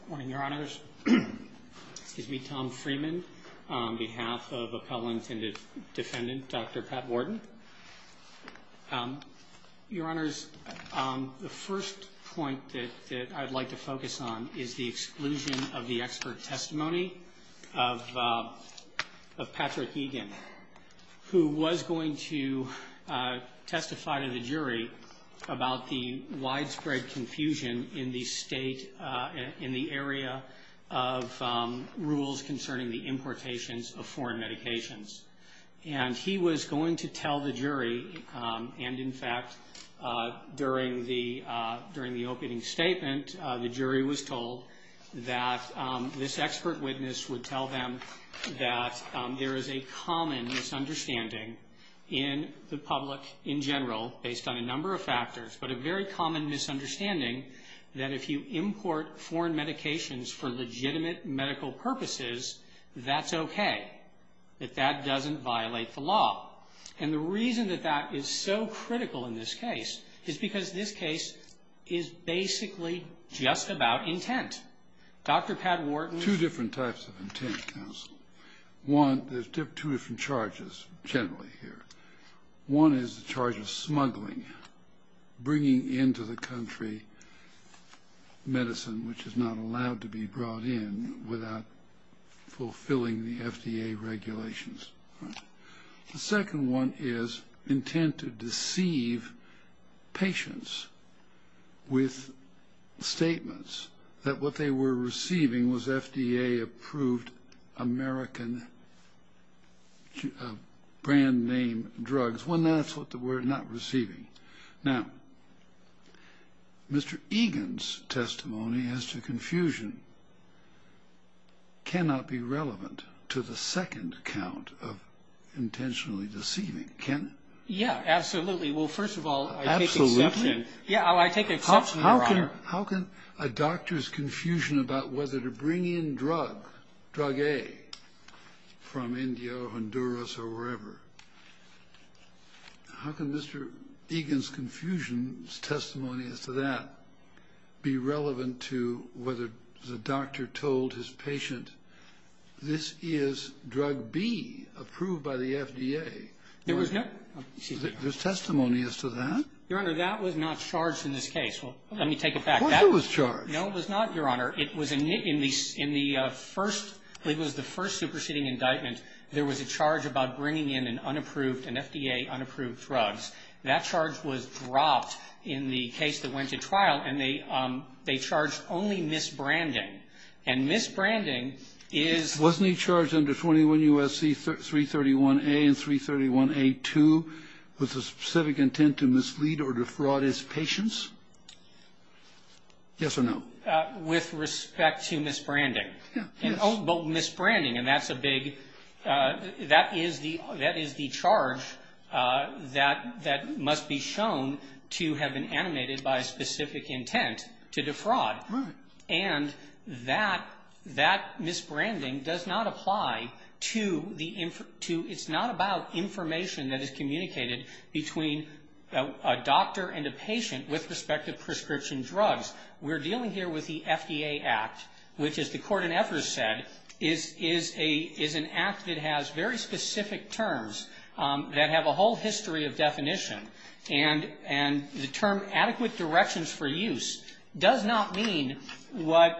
Good morning, your honors. It's me, Tom Freeman, on behalf of appellant and defendant Dr. Patwardhan. Your honors, the first point that I'd like to focus on is the exclusion of the expert testimony of Patrick Egan, who was going to testify to the jury about the widespread confusion in the state, in the area of rules concerning the importations of foreign medications. And he was going to tell the jury, and in fact, during the opening statement, the jury was told that this expert witness would tell them that there is a common misunderstanding in the public in general, based on a number of factors, but a very common misunderstanding that if you import foreign medications for legitimate medical purposes, that's okay, that that doesn't violate the law. And the reason that that is so critical in this case is because this case is basically just about intent. Dr. Patwardhan... Two different types of intent, counsel. One, there's two different charges generally here. One is the charge of smuggling, bringing into the country medicine which is not allowed to be brought in without fulfilling the FDA regulations. The second one is intent to deceive patients with statements that what they were receiving was FDA-approved American brand name drugs, when that's what they were not receiving. Now, Mr. Egan's testimony as to confusion cannot be relevant to the second count of intentionally deceiving, can it? Yeah, absolutely. Well, first of all, I take exception. Absolutely? Yeah, I take exception, Your Honor. How can a doctor's confusion about whether to bring in drug, drug A, from India or Honduras or wherever, how can Mr. Egan's confusion's testimony as to that be relevant to whether the doctor told his patient, this is drug B approved by the FDA? There was no... There's testimony as to that? Your Honor, that was not charged in this case. Let me take it back. It was charged. No, it was not, Your Honor. It was in the first, it was the first superseding indictment. There was a charge about bringing in an unapproved, an FDA-unapproved drug. That charge was dropped in the case that went to trial, and they charged only misbranding. And misbranding is... 331A and 331A2 with the specific intent to mislead or defraud his patients? Yes or no? With respect to misbranding. Yes. But misbranding, and that's a big, that is the charge that must be shown to have been animated by a specific intent to defraud. Right. And that misbranding does not apply to the... It's not about information that is communicated between a doctor and a patient with respect to prescription drugs. We're dealing here with the FDA Act, which, as the Court in Ephros said, is an act that has very specific terms that have a whole history of definition. And the term adequate directions for use does not mean what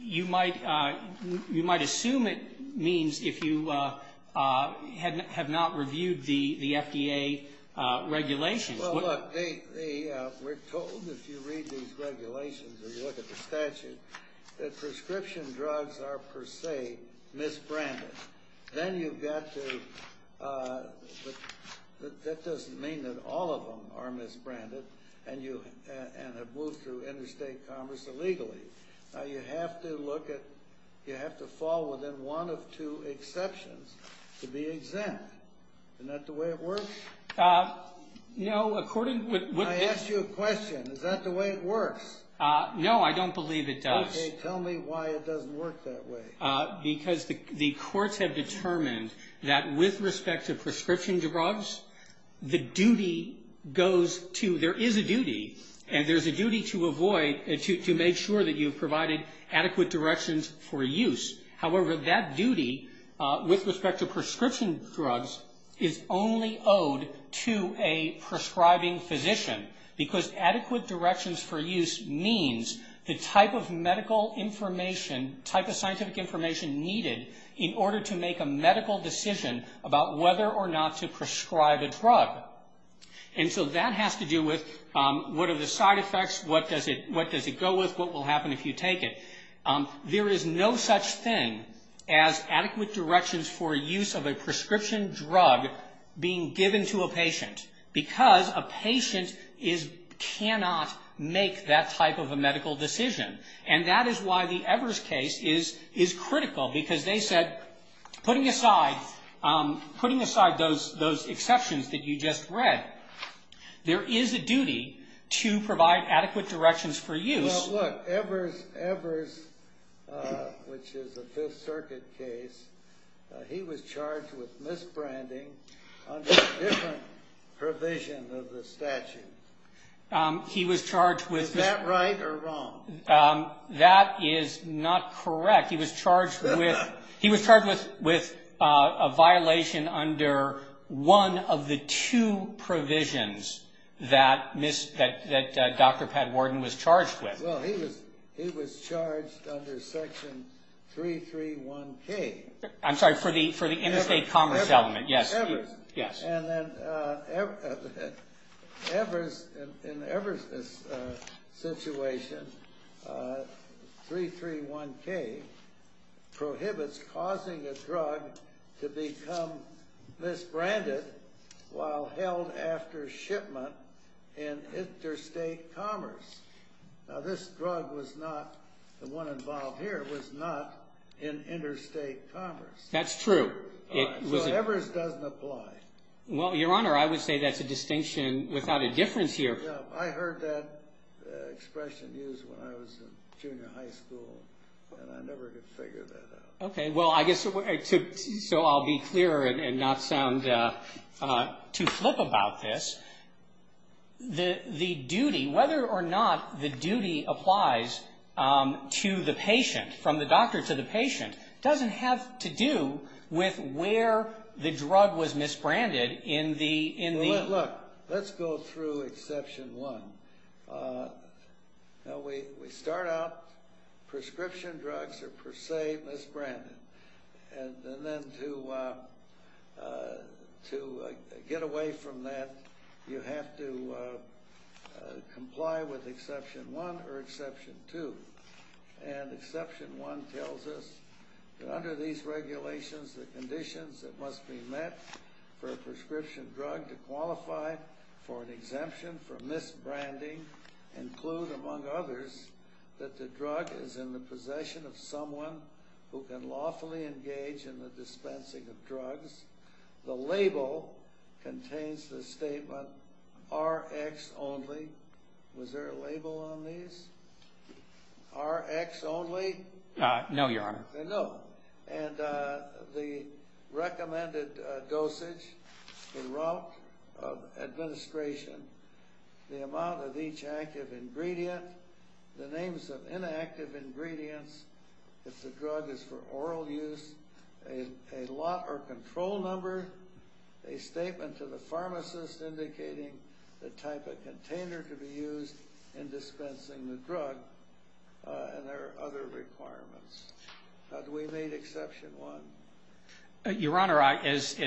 you might assume it means if you have not reviewed the FDA regulations. Well, look, we're told, if you read these regulations or you look at the statute, that prescription drugs are, per se, misbranded. Then you've got to, that doesn't mean that all of them are misbranded and have moved through interstate commerce illegally. You have to look at, you have to fall within one of two exceptions to be exempt. Isn't that the way it works? No, according to... I asked you a question. Is that the way it works? No, I don't believe it does. Okay, tell me why it doesn't work that way. Because the courts have determined that with respect to prescription drugs, the duty goes to, there is a duty, and there's a duty to avoid, to make sure that you've provided adequate directions for use. However, that duty, with respect to prescription drugs, is only owed to a prescribing physician. Because adequate directions for use means the type of medical information, type of scientific information needed in order to make a medical decision about whether or not to prescribe a drug. And so that has to do with what are the side effects, what does it go with, what will happen if you take it. There is no such thing as adequate directions for use of a prescription drug being given to a patient. Because a patient cannot make that type of a medical decision. And that is why the Evers case is critical. Because they said, putting aside those exceptions that you just read, there is a duty to provide adequate directions for use. Well, look, Evers, which is a Fifth Circuit case, he was charged with misbranding under a different provision of the statute. He was charged with... Is that right or wrong? That is not correct. He was charged with a violation under one of the two provisions that Dr. Pat Warden was charged with. Well, he was charged under Section 331K. I'm sorry, for the interstate commerce element. Evers. Yes. And then Evers, in Evers' situation, 331K prohibits causing a drug to become misbranded while held after shipment in interstate commerce. Now, this drug was not, the one involved here, was not in interstate commerce. That's true. So Evers doesn't apply. Well, Your Honor, I would say that's a distinction without a difference here. I heard that expression used when I was in junior high school, and I never could figure that out. Well, I guess, so I'll be clear and not sound too flip about this, the duty, whether or not the duty applies to the patient, from the doctor to the patient, doesn't have to do with where the drug was misbranded in the... And then to get away from that, you have to comply with Exception 1 or Exception 2. And Exception 1 tells us that under these regulations, the conditions that must be met for a prescription drug to qualify for an exemption from misbranding include, among others, that the drug is in the possession of someone who can lawfully engage in the dispensing of drugs. The label contains the statement, Rx Only. Was there a label on these? Rx Only? No, Your Honor. No. And the recommended dosage, the route of administration, the amount of each active ingredient, the names of inactive ingredients, if the drug is for oral use, a lot or control number, a statement to the pharmacist indicating the type of container to be used in dispensing the drug, and there are other requirements. How do we meet Exception 1? Your Honor, as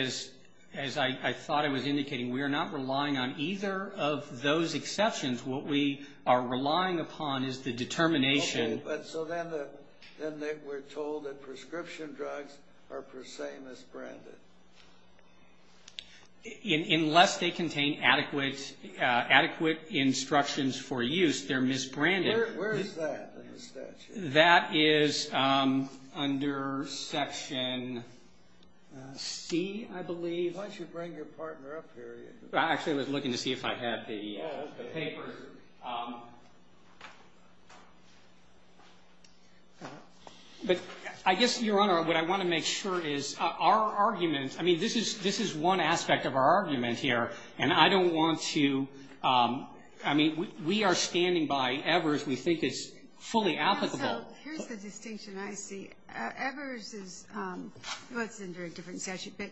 I thought I was indicating, we are not relying on either of those exceptions. What we are relying upon is the determination... Okay, but so then we're told that prescription drugs are per se misbranded. Unless they contain adequate instructions for use, they're misbranded. Where is that in the statute? That is under Section C, I believe. Why don't you bring your partner up here? I actually was looking to see if I had the papers. But I guess, Your Honor, what I want to make sure is our argument, I mean, this is one aspect of our argument here, and I don't want to, I mean, we are standing by Evers. We think it's fully applicable. So here's the distinction I see. Evers is, well, it's under a different statute, but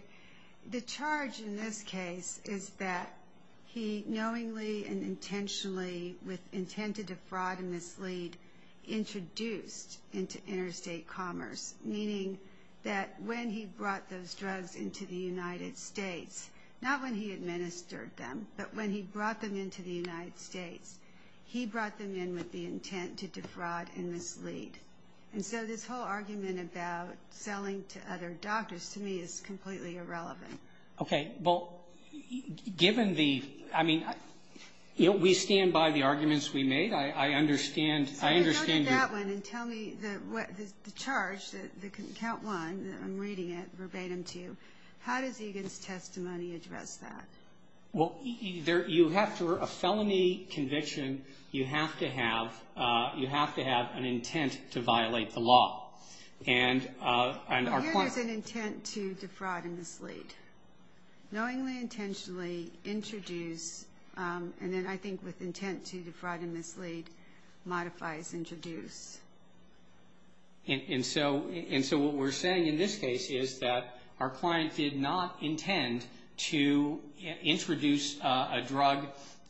the charge in this case is that he knowingly and intentionally, with intent to defraud and mislead, introduced into interstate commerce, meaning that when he brought those drugs into the United States, not when he administered them, but when he brought them into the United States, he brought them in with the intent to defraud and mislead. And so this whole argument about selling to other doctors, to me, is completely irrelevant. Okay, well, given the, I mean, we stand by the arguments we made. I understand. Go to that one and tell me the charge, the count one, that I'm reading it verbatim to you. How does Egan's testimony address that? Well, you have to, for a felony conviction, you have to have an intent to violate the law. And here there's an intent to defraud and mislead. Knowingly, intentionally introduce, and then I think with intent to defraud and mislead, modifies introduce. And so what we're saying in this case is that our client did not intend to introduce a drug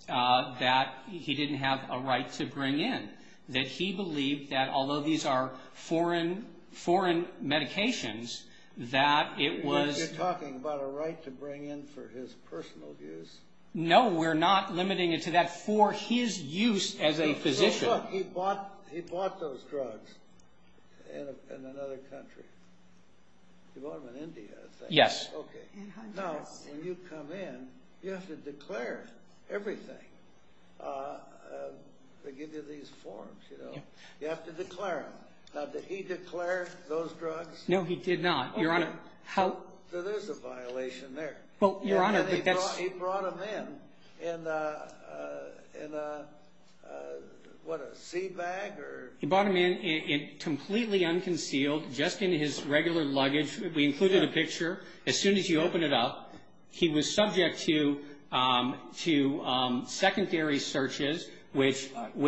that he didn't have a right to bring in, that he believed that although these are foreign medications, that it was You're talking about a right to bring in for his personal use. No, we're not limiting it to that for his use as a physician. So, look, he bought those drugs in another country. He bought them in India, I think. Yes. Okay. Now, when you come in, you have to declare everything. They give you these forms, you know. You have to declare them. Now, did he declare those drugs? No, he did not. Your Honor, how So there's a violation there. Well, Your Honor, but that's He brought them in in a, what, a seed bag or He brought them in completely unconcealed, just in his regular luggage. We included a picture. As soon as you open it up, he was subject to secondary searches, which He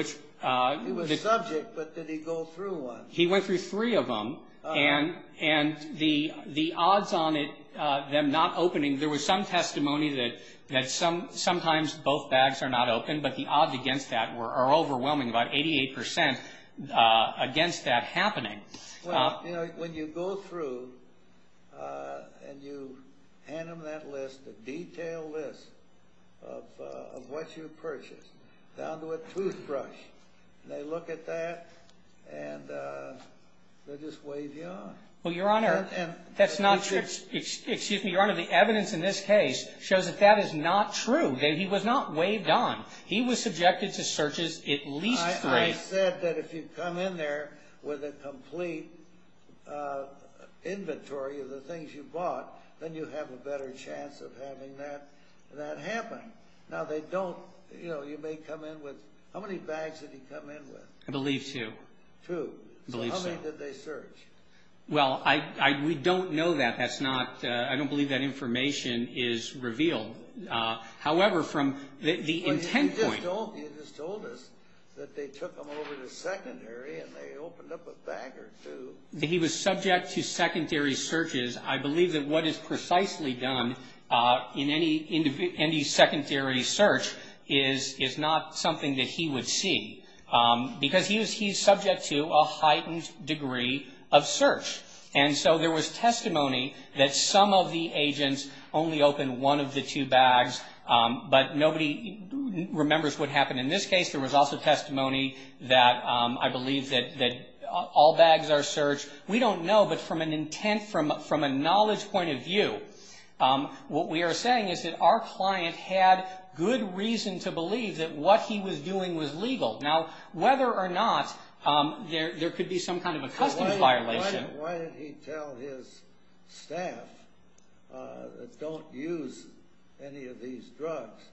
was subject, but did he go through one? He went through three of them, and the odds on them not opening There was some testimony that sometimes both bags are not open, but the odds against that are overwhelming, about 88% against that happening. Well, you know, when you go through and you hand them that list, a detailed list of what you purchased, down to a toothbrush, they look at that, and they'll just wave you on. Well, Your Honor, that's not true. Excuse me, Your Honor, the evidence in this case shows that that is not true, that he was not waved on. He was subjected to searches at least three. I said that if you come in there with a complete inventory of the things you bought, then you have a better chance of having that happen. Now, they don't, you know, you may come in with, how many bags did he come in with? I believe two. Two. I believe so. So how many did they search? Well, we don't know that. I don't believe that information is revealed. However, from the intent point. You just told us that they took them over to secondary and they opened up a bag or two. He was subject to secondary searches. I believe that what is precisely done in any secondary search is not something that he would see, because he's subject to a heightened degree of search. And so there was testimony that some of the agents only opened one of the two bags, but nobody remembers what happened in this case. There was also testimony that I believe that all bags are searched. We don't know, but from an intent, from a knowledge point of view, what we are saying is that our client had good reason to believe that what he was doing was legal. Now, whether or not there could be some kind of a customs violation. Why did he tell his staff, don't use any of these drugs?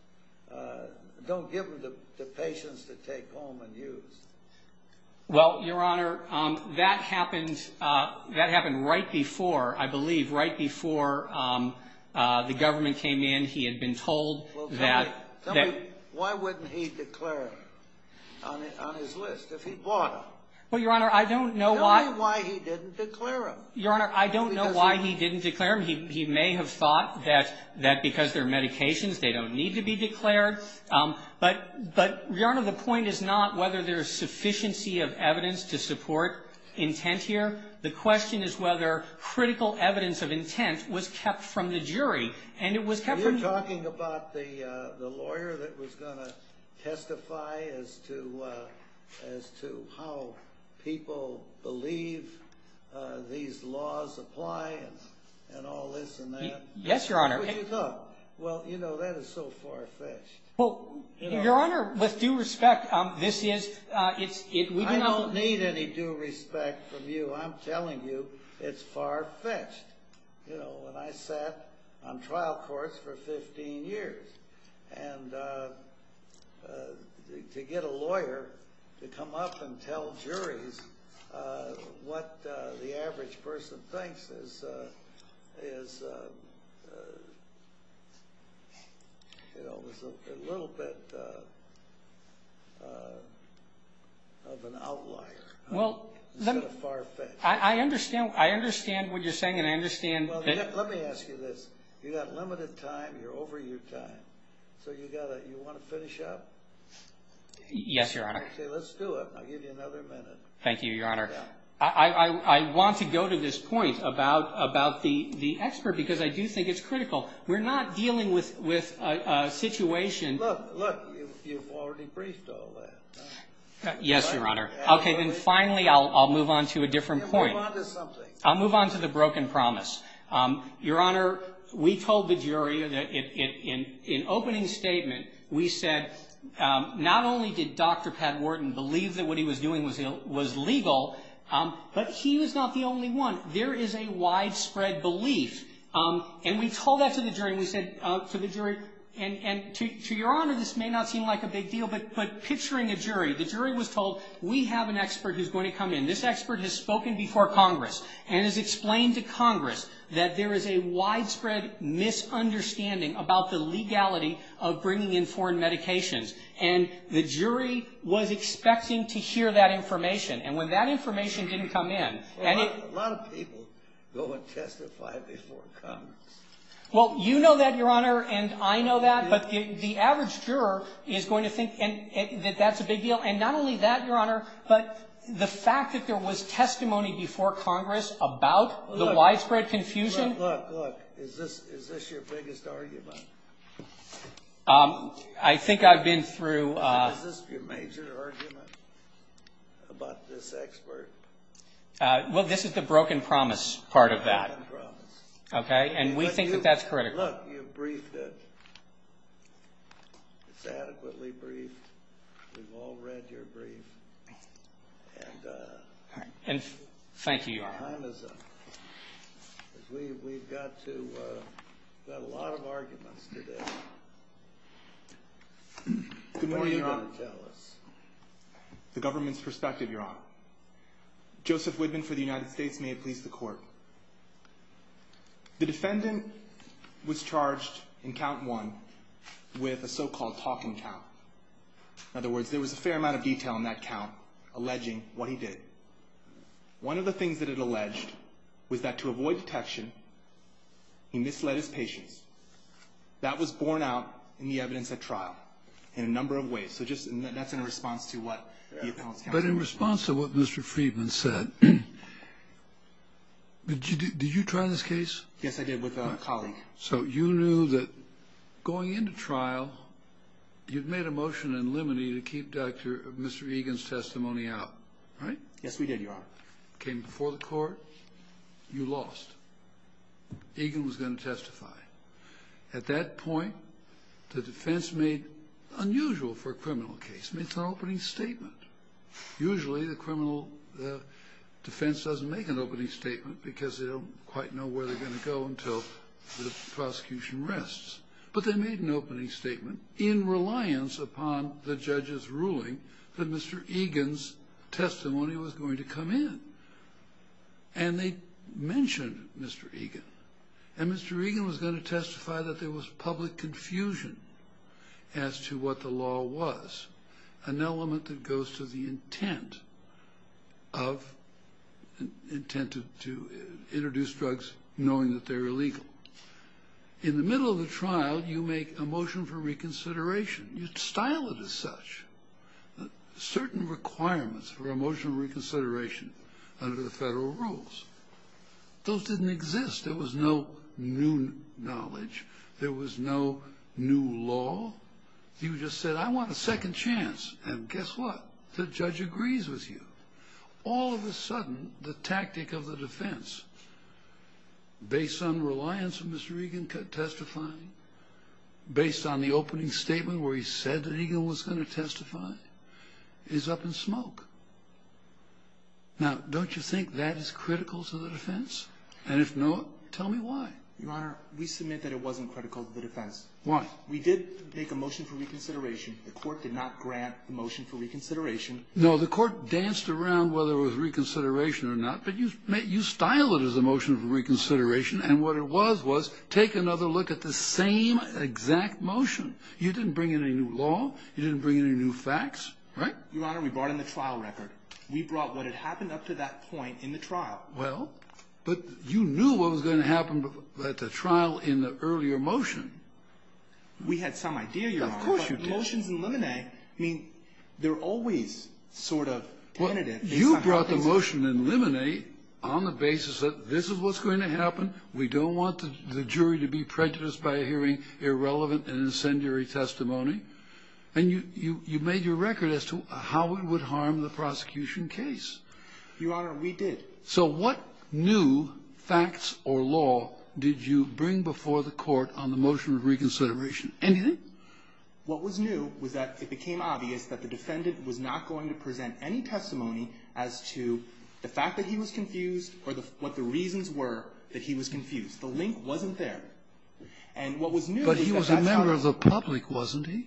Don't give them to patients to take home and use. Well, Your Honor, that happened right before, I believe, right before the government came in. He had been told that. Tell me, why wouldn't he declare them on his list if he bought them? Well, Your Honor, I don't know why. Tell me why he didn't declare them. Your Honor, I don't know why he didn't declare them. He may have thought that because they're medications, they don't need to be declared. But, Your Honor, the point is not whether there's sufficiency of evidence to support intent here. The question is whether critical evidence of intent was kept from the jury, and it was kept from. You're talking about the lawyer that was going to testify as to how people believe these laws apply and all this and that? Yes, Your Honor. Well, you know, that is so far-fetched. Well, Your Honor, with due respect, this is – I don't need any due respect from you. I'm telling you it's far-fetched. You know, when I sat on trial courts for 15 years, and to get a lawyer to come up and tell juries what the average person thinks is, you know, a little bit of an outlier instead of far-fetched. I understand what you're saying, and I understand that – Well, let me ask you this. You've got limited time. You're over your time. So you want to finish up? Yes, Your Honor. Okay, let's do it. I'll give you another minute. Thank you, Your Honor. I want to go to this point about the expert because I do think it's critical. We're not dealing with a situation – Look, you've already briefed all that. Yes, Your Honor. Okay, then finally I'll move on to a different point. Move on to something. I'll move on to the broken promise. Your Honor, we told the jury in opening statement, we said not only did Dr. Pat Wharton believe that what he was doing was legal, but he was not the only one. There is a widespread belief, and we told that to the jury. We said to the jury – and to Your Honor, this may not seem like a big deal, but picturing a jury. The jury was told, we have an expert who's going to come in. This expert has spoken before Congress and has explained to Congress that there is a widespread misunderstanding about the legality of bringing in foreign medications. And the jury was expecting to hear that information. And when that information didn't come in – A lot of people go and testify before Congress. Well, you know that, Your Honor, and I know that, but the average juror is going to think that that's a big deal. And not only that, Your Honor, but the fact that there was testimony before Congress about the widespread confusion – Look, look, look. Is this your biggest argument? I think I've been through – Is this your major argument about this expert? Well, this is the broken promise part of that. Broken promise. Okay, and we think that that's critical. Look, you've briefed it. It's adequately briefed. We've all read your brief. And – And thank you, Your Honor. We've got to – we've got a lot of arguments today. Good morning, Your Honor. What are you going to tell us? The government's perspective, Your Honor. Joseph Widman for the United States. May it please the Court. The defendant was charged in count one with a so-called talking count. In other words, there was a fair amount of detail in that count alleging what he did. One of the things that it alleged was that to avoid detection, he misled his patients. That was borne out in the evidence at trial in a number of ways. But in response to what Mr. Freedman said, did you try this case? Yes, I did with a colleague. So you knew that going into trial, you'd made a motion in limine to keep Mr. Egan's testimony out, right? Yes, we did, Your Honor. It came before the Court. You lost. Egan was going to testify. At that point, the defense made unusual for a criminal case, made an opening statement. Usually, the criminal defense doesn't make an opening statement because they don't quite know where they're going to go until the prosecution rests. But they made an opening statement in reliance upon the judge's ruling that Mr. Egan's testimony was going to come in. And they mentioned Mr. Egan. And Mr. Egan was going to testify that there was public confusion as to what the law was, an element that goes to the intent to introduce drugs knowing that they're illegal. In the middle of the trial, you make a motion for reconsideration. You style it as such. Certain requirements for a motion for reconsideration under the federal rules, those didn't exist. There was no new knowledge. There was no new law. You just said, I want a second chance. And guess what? The judge agrees with you. All of a sudden, the tactic of the defense, based on reliance on Mr. Egan testifying, based on the opening statement where he said that Egan was going to testify, is up in smoke. Now, don't you think that is critical to the defense? And if not, tell me why. Your Honor, we submit that it wasn't critical to the defense. Why? We did make a motion for reconsideration. The court did not grant the motion for reconsideration. No, the court danced around whether it was reconsideration or not. But you styled it as a motion for reconsideration. And what it was was take another look at the same exact motion. You didn't bring in any new law. You didn't bring in any new facts. Right? Your Honor, we brought in the trial record. We brought what had happened up to that point in the trial. Well, but you knew what was going to happen at the trial in the earlier motion. We had some idea, Your Honor. Of course you did. But motions in limine, I mean, they're always sort of tentative. Well, you brought the motion in limine on the basis that this is what's going to happen. We don't want the jury to be prejudiced by hearing irrelevant and incendiary testimony. And you made your record as to how it would harm the prosecution case. Your Honor, we did. So what new facts or law did you bring before the court on the motion of reconsideration? Anything? What was new was that it became obvious that the defendant was not going to present any testimony as to the fact that he was confused or what the reasons were that he was confused. The link wasn't there. And what was new was that that's how it happened. But he was a member of the public, wasn't he?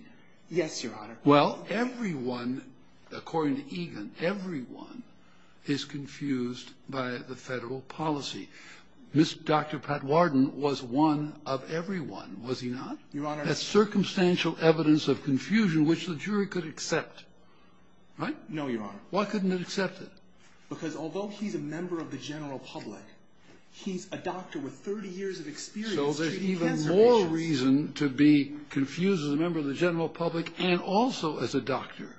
Yes, Your Honor. Well, everyone, according to Egan, everyone is confused by the federal policy. Dr. Patwarden was one of everyone, was he not? Your Honor. That's circumstantial evidence of confusion which the jury could accept. Right? No, Your Honor. Why couldn't it accept it? Because although he's a member of the general public, he's a doctor with 30 years of experience treating cancer patients. to be confused as a member of the general public and also as a doctor.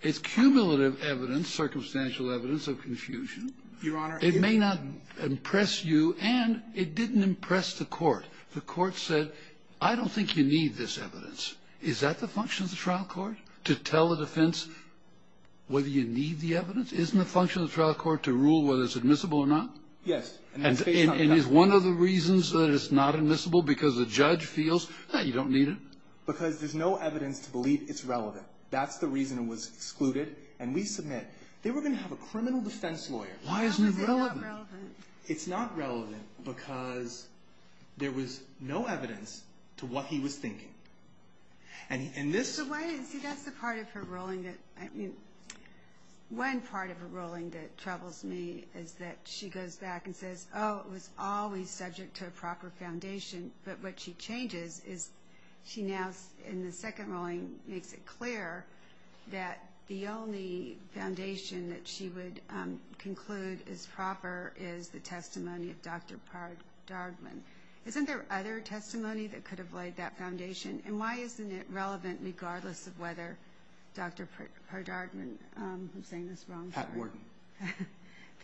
It's cumulative evidence, circumstantial evidence of confusion. Your Honor. It may not impress you, and it didn't impress the court. The court said, I don't think you need this evidence. Is that the function of the trial court? To tell the defense whether you need the evidence? Isn't the function of the trial court to rule whether it's admissible or not? Yes. And is one of the reasons that it's not admissible because the judge feels, you don't need it? Because there's no evidence to believe it's relevant. That's the reason it was excluded. And we submit, they were going to have a criminal defense lawyer. Why isn't it relevant? Because it's not relevant. It's not relevant because there was no evidence to what he was thinking. And this... See, that's the part of her ruling that, I mean, one part of her ruling that troubles me is that she goes back and says, oh, it was always subject to a proper foundation. But what she changes is she now, in the second ruling, makes it clear that the only foundation that she would conclude is proper is the testimony of Dr. Pardardman. Isn't there other testimony that could have laid that foundation? And why isn't it relevant regardless of whether Dr. Pardardman, I'm saying this wrong. Pat Worden.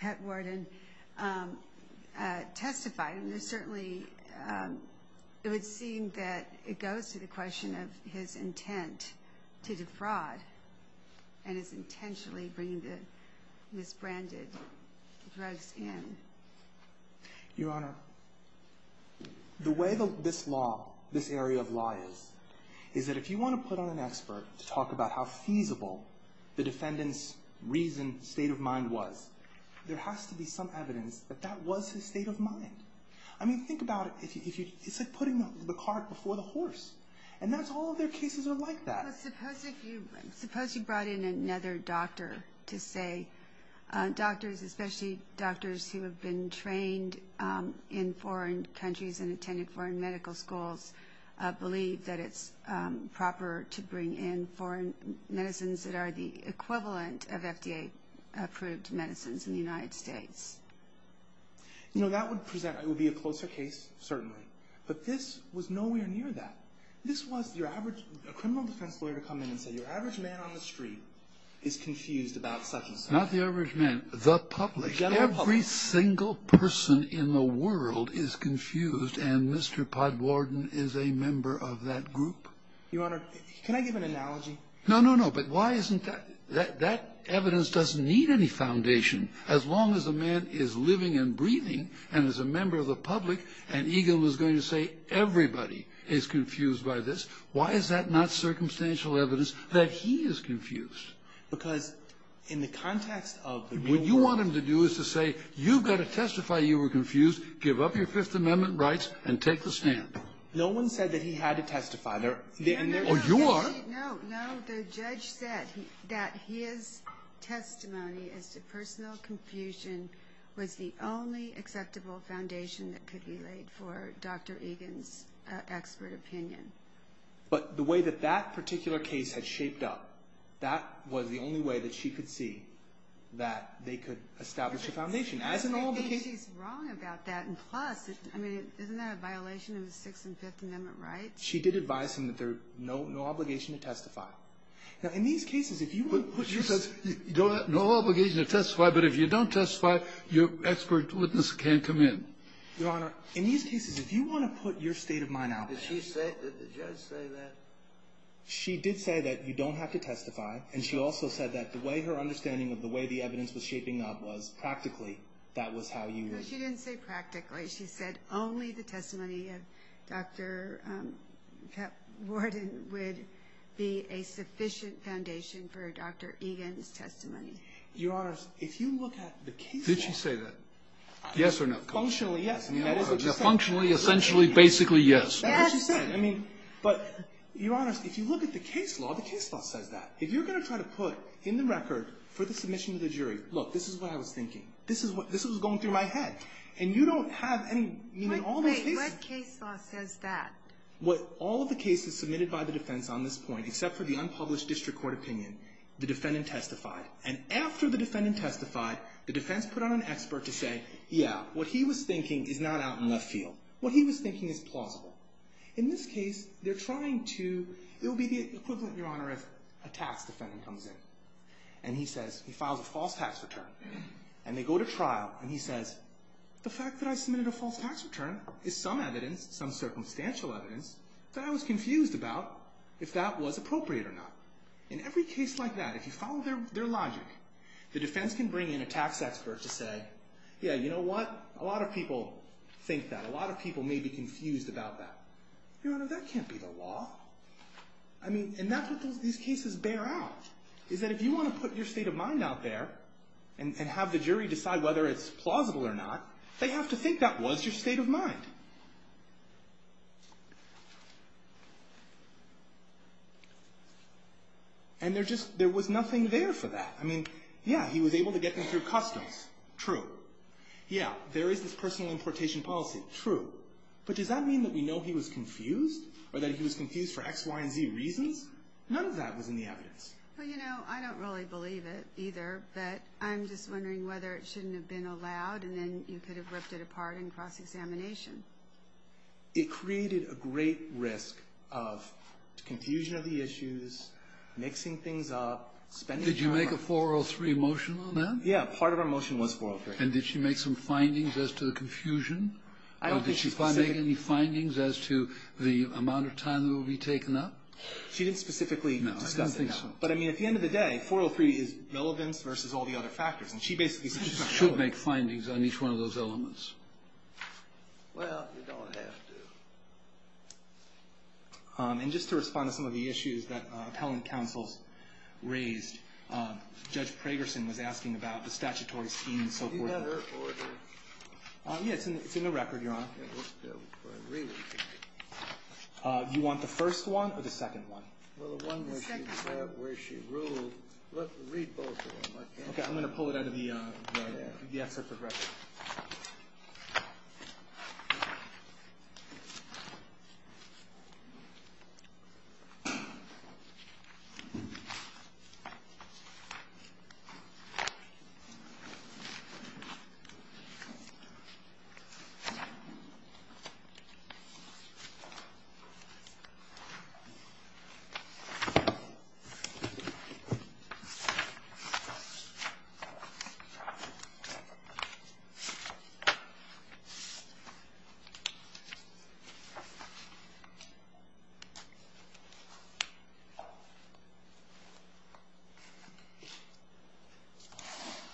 Pat Worden testified. And there's certainly, it would seem that it goes to the question of his intent to defraud and his intentionally bringing the misbranded drugs in. Your Honor, the way this law, this area of law is, is that if you want to put on an expert to talk about how feasible the defendant's reasoned state of mind was, there has to be some evidence that that was his state of mind. I mean, think about it. It's like putting the cart before the horse. And all of their cases are like that. But suppose you brought in another doctor to say, Doctors, especially doctors who have been trained in foreign countries and attended foreign medical schools, believe that it's proper to bring in foreign medicines that are the equivalent of FDA approved medicines in the United States. You know, that would present, it would be a closer case, certainly. But this was nowhere near that. This was your average, a criminal defense lawyer to come in and say, your average man on the street is confused about such and such. Not the average man. The public. Every single person in the world is confused, and Mr. Podwarden is a member of that group. Your Honor, can I give an analogy? No, no, no. But why isn't that? That evidence doesn't need any foundation. As long as a man is living and breathing and is a member of the public, and Egan was going to say everybody is confused by this, why is that not circumstantial evidence that he is confused? Because in the context of the real world. What you want him to do is to say, you've got to testify you were confused, give up your Fifth Amendment rights, and take the stand. No one said that he had to testify. Oh, you are. No, no. The judge said that his testimony as to personal confusion was the only acceptable foundation that could be laid for Dr. Egan's expert opinion. But the way that that particular case had shaped up, that was the only way that she could see that they could establish a foundation. As in all the cases. I think she's wrong about that. And plus, I mean, isn't that a violation of the Sixth and Fifth Amendment rights? She did advise him that there's no obligation to testify. Now, in these cases, if you want to put yourself. No obligation to testify, but if you don't testify, your expert witness can't come in. Your Honor, in these cases, if you want to put your state of mind out there. Did she say, did the judge say that? She did say that you don't have to testify, and she also said that the way her understanding of the way the evidence was shaping up was practically that was how you were. No, she didn't say practically. She said only the testimony of Dr. Warden would be a sufficient foundation for Dr. Egan's testimony. Your Honor, if you look at the case law. Did she say that? Yes or no? Functionally, yes. Functionally, essentially, basically, yes. That's what she said. But, Your Honor, if you look at the case law, the case law says that. If you're going to try to put in the record for the submission to the jury, look, this is what I was thinking. This was going through my head. And you don't have any. Wait, what case law says that? What all of the cases submitted by the defense on this point, except for the unpublished district court opinion, the defendant testified. And after the defendant testified, the defense put on an expert to say, yeah, what he was thinking is not out in left field. What he was thinking is plausible. In this case, they're trying to, it will be the equivalent, Your Honor, if a tax defendant comes in. And he says, he files a false tax return. And they go to trial, and he says, the fact that I submitted a false tax return is some evidence, some circumstantial evidence that I was confused about if that was appropriate or not. In every case like that, if you follow their logic, the defense can bring in a tax expert to say, yeah, you know what, a lot of people think that. A lot of people may be confused about that. Your Honor, that can't be the law. I mean, and that's what these cases bear out, is that if you want to put your state of mind out there and have the jury decide whether it's plausible or not, they have to think that was your state of mind. And there just, there was nothing there for that. I mean, yeah, he was able to get them through customs. True. Yeah, there is this personal importation policy. True. But does that mean that we know he was confused or that he was confused for X, Y, and Z reasons? None of that was in the evidence. Well, you know, I don't really believe it either, but I'm just wondering whether it shouldn't have been allowed and then you could have ripped it apart in cross-examination. It created a great risk of confusion of the issues, mixing things up, spending time on it. Did you make a 403 motion on that? Yeah, part of our motion was 403. And did she make some findings as to the confusion? I don't think she specifically... Did she make any findings as to the amount of time that will be taken up? She didn't specifically discuss it. No, I don't think so. But, I mean, at the end of the day, 403 is relevance versus all the other factors, and she basically said she was going to follow it. She should make findings on each one of those elements. Well, you don't have to. And just to respond to some of the issues that appellant counsels raised, Judge Pragerson was asking about the statutory scheme and so forth. Do you have her order? Yes, it's in the record, Your Honor. Okay, let's go for a re-reading. Do you want the first one or the second one? The second one. Well, the one where she ruled. Read both of them. Okay, I'm going to pull it out of the excerpt of the record. Okay.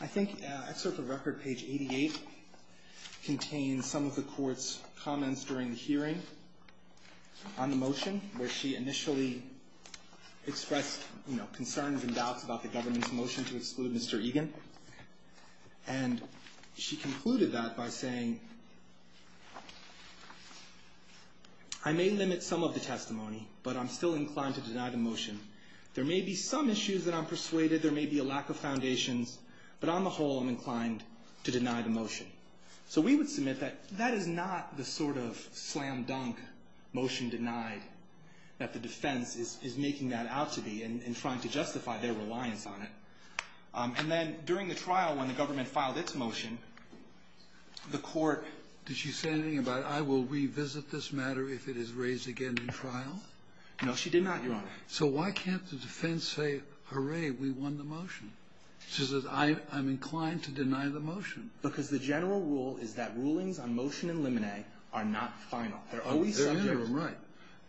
I think excerpt of record, page 88, contains some of the Court's comments during the hearing on the motion, where she initially expressed, you know, concerns and doubts about the government's motion to exclude Mr. Egan. And she concluded that by saying, I may limit some of the testimony, but I'm still inclined to deny the motion. There may be some issues that I'm persuaded. There may be a lack of foundations. But on the whole, I'm inclined to deny the motion. So we would submit that that is not the sort of slam-dunk motion denied that the defense is making that out to be and trying to justify their reliance on it. And then during the trial, when the government filed its motion, the Court ---- Did she say anything about, I will revisit this matter if it is raised again in trial? No, she did not, Your Honor. So why can't the defense say, hooray, we won the motion? She says, I'm inclined to deny the motion. Because the general rule is that rulings on motion in limine are not final. They're always subject to ---- They're never right.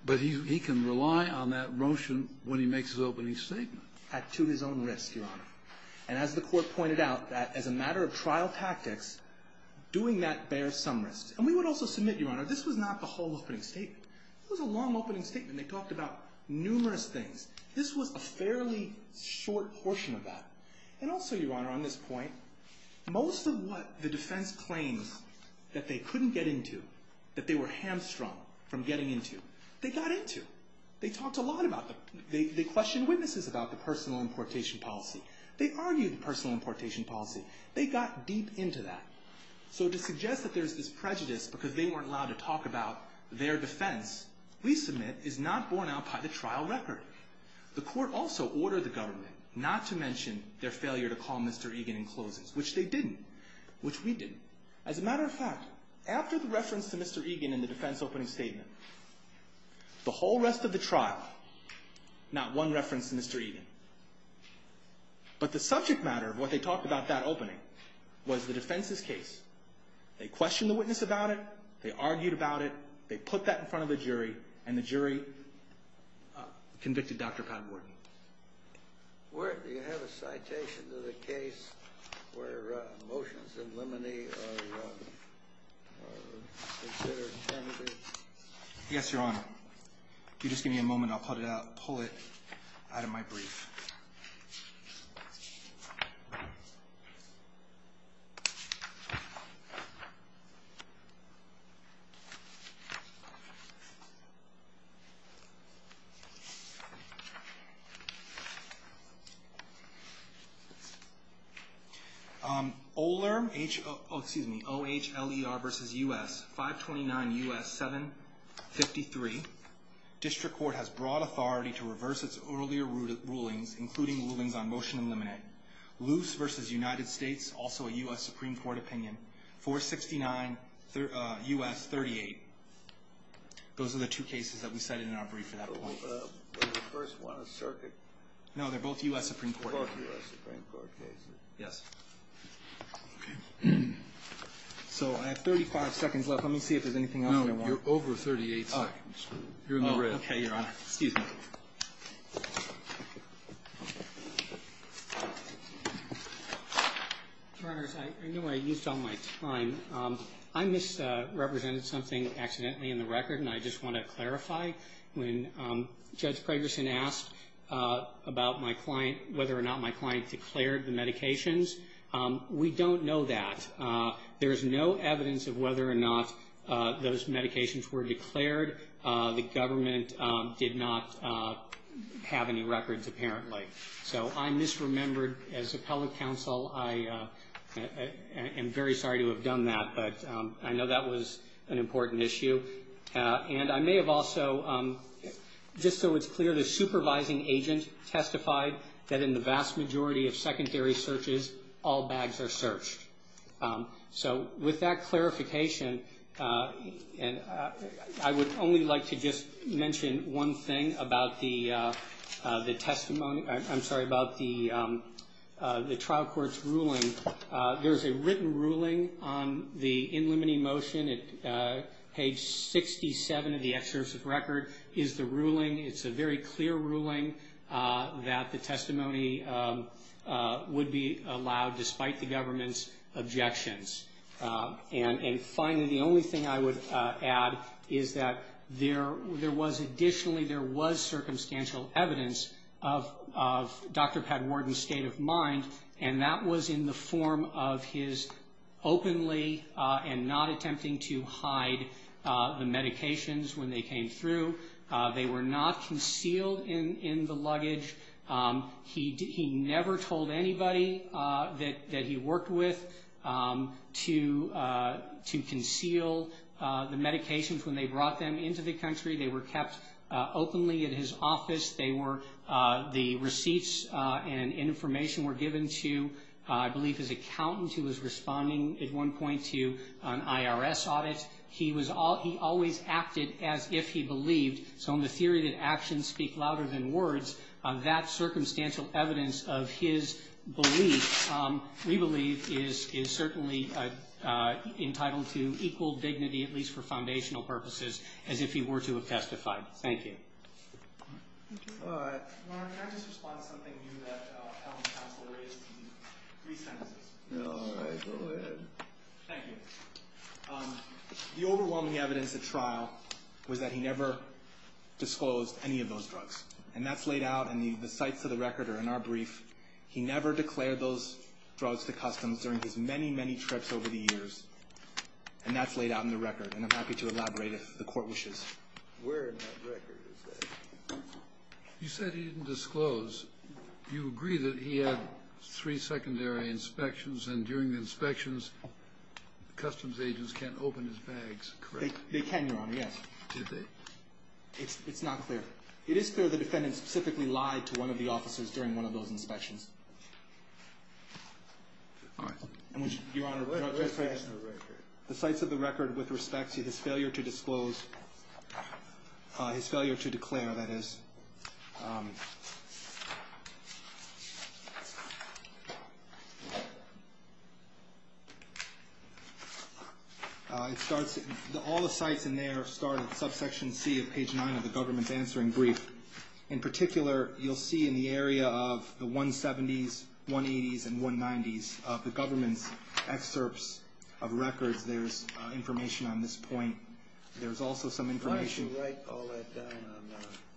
But he can rely on that motion when he makes his opening statement. To his own risk, Your Honor. And as the Court pointed out, that as a matter of trial tactics, doing that bears some risk. And we would also submit, Your Honor, this was not the whole opening statement. It was a long opening statement. They talked about numerous things. This was a fairly short portion of that. And also, Your Honor, on this point, most of what the defense claims that they couldn't get into, that they were hamstrung from getting into, they got into. They talked a lot about the ---- They questioned witnesses about the personal importation policy. They argued the personal importation policy. They got deep into that. So to suggest that there's this prejudice because they weren't allowed to talk about their defense, we submit is not borne out by the trial record. The Court also ordered the government not to mention their failure to call Mr. Egan in closes, which they didn't, which we didn't. As a matter of fact, after the reference to Mr. Egan in the defense opening statement, the whole rest of the trial, not one reference to Mr. Egan. But the subject matter of what they talked about that opening was the defense's case. They questioned the witness about it. They argued about it. They put that in front of the jury, and the jury convicted Dr. Pat Wharton. Do you have a citation to the case where motions in limine are considered tentative? Yes, Your Honor. If you just give me a moment, I'll pull it out of my brief. OHLER versus U.S., 529 U.S., 753. District Court has broad authority to reverse its earlier rulings, including rulings on motion in limine. Loose versus United States, also a U.S. Supreme Court opinion, 469 U.S., 38. Those are the two cases that we cited in our brief. Was the first one a circuit? No, they're both U.S. Supreme Court. They're both U.S. Supreme Court cases. Yes. So I have 35 seconds left. Let me see if there's anything else I want. No, you're over 38 seconds. You're in the red. Okay, Your Honor. Excuse me. Your Honors, I know I used all my time. I misrepresented something accidentally in the record, and I just want to clarify. When Judge Pragerson asked about my client, whether or not my client declared the medications, we don't know that. There is no evidence of whether or not those medications were declared. The government did not have any records, apparently. So I misremembered. As appellate counsel, I am very sorry to have done that, but I know that was an important issue. And I may have also, just so it's clear, the supervising agent testified that in the vast majority of secondary searches, all bags are searched. So with that clarification, I would only like to just mention one thing about the testimony. I'm sorry, about the trial court's ruling. There's a written ruling on the in limine motion at page 67 of the excursive record is the ruling. It's a very clear ruling that the testimony would be allowed, despite the government's objections. And finally, the only thing I would add is that there was additionally, there was circumstantial evidence of Dr. Padwarden's state of mind, and that was in the form of his openly and not attempting to hide the medications when they came through. They were not concealed in the luggage. He never told anybody that he worked with to conceal the medications when they brought them into the country. They were kept openly at his office. The receipts and information were given to, I believe, his accountant who was responding at one point to an IRS audit. He always acted as if he believed. So in the theory that actions speak louder than words, that circumstantial evidence of his belief, we believe, is certainly entitled to equal dignity, at least for foundational purposes, as if he were to have testified. Thank you. All right. Mark, can I just respond to something new that Alan's counsel raised? Three sentences. All right. Go ahead. Thank you. The overwhelming evidence at trial was that he never disclosed any of those drugs. And that's laid out in the sites of the record or in our brief. He never declared those drugs to customs during his many, many trips over the years. And that's laid out in the record. And I'm happy to elaborate if the Court wishes. Where in that record is that? You said he didn't disclose. Do you agree that he had three secondary inspections, and during the inspections, customs agents can't open his bags? They can, Your Honor, yes. Did they? It's not clear. It is clear the defendant specifically lied to one of the officers during one of those inspections. All right. Your Honor, the sites of the record with respect to his failure to disclose, his failure to declare, that is. All the sites in there start at subsection C of page 9 of the government's answering brief. In particular, you'll see in the area of the 170s, 180s, and 190s of the government's excerpts of records, there's information on this point. There's also some information. Why don't you write all that down?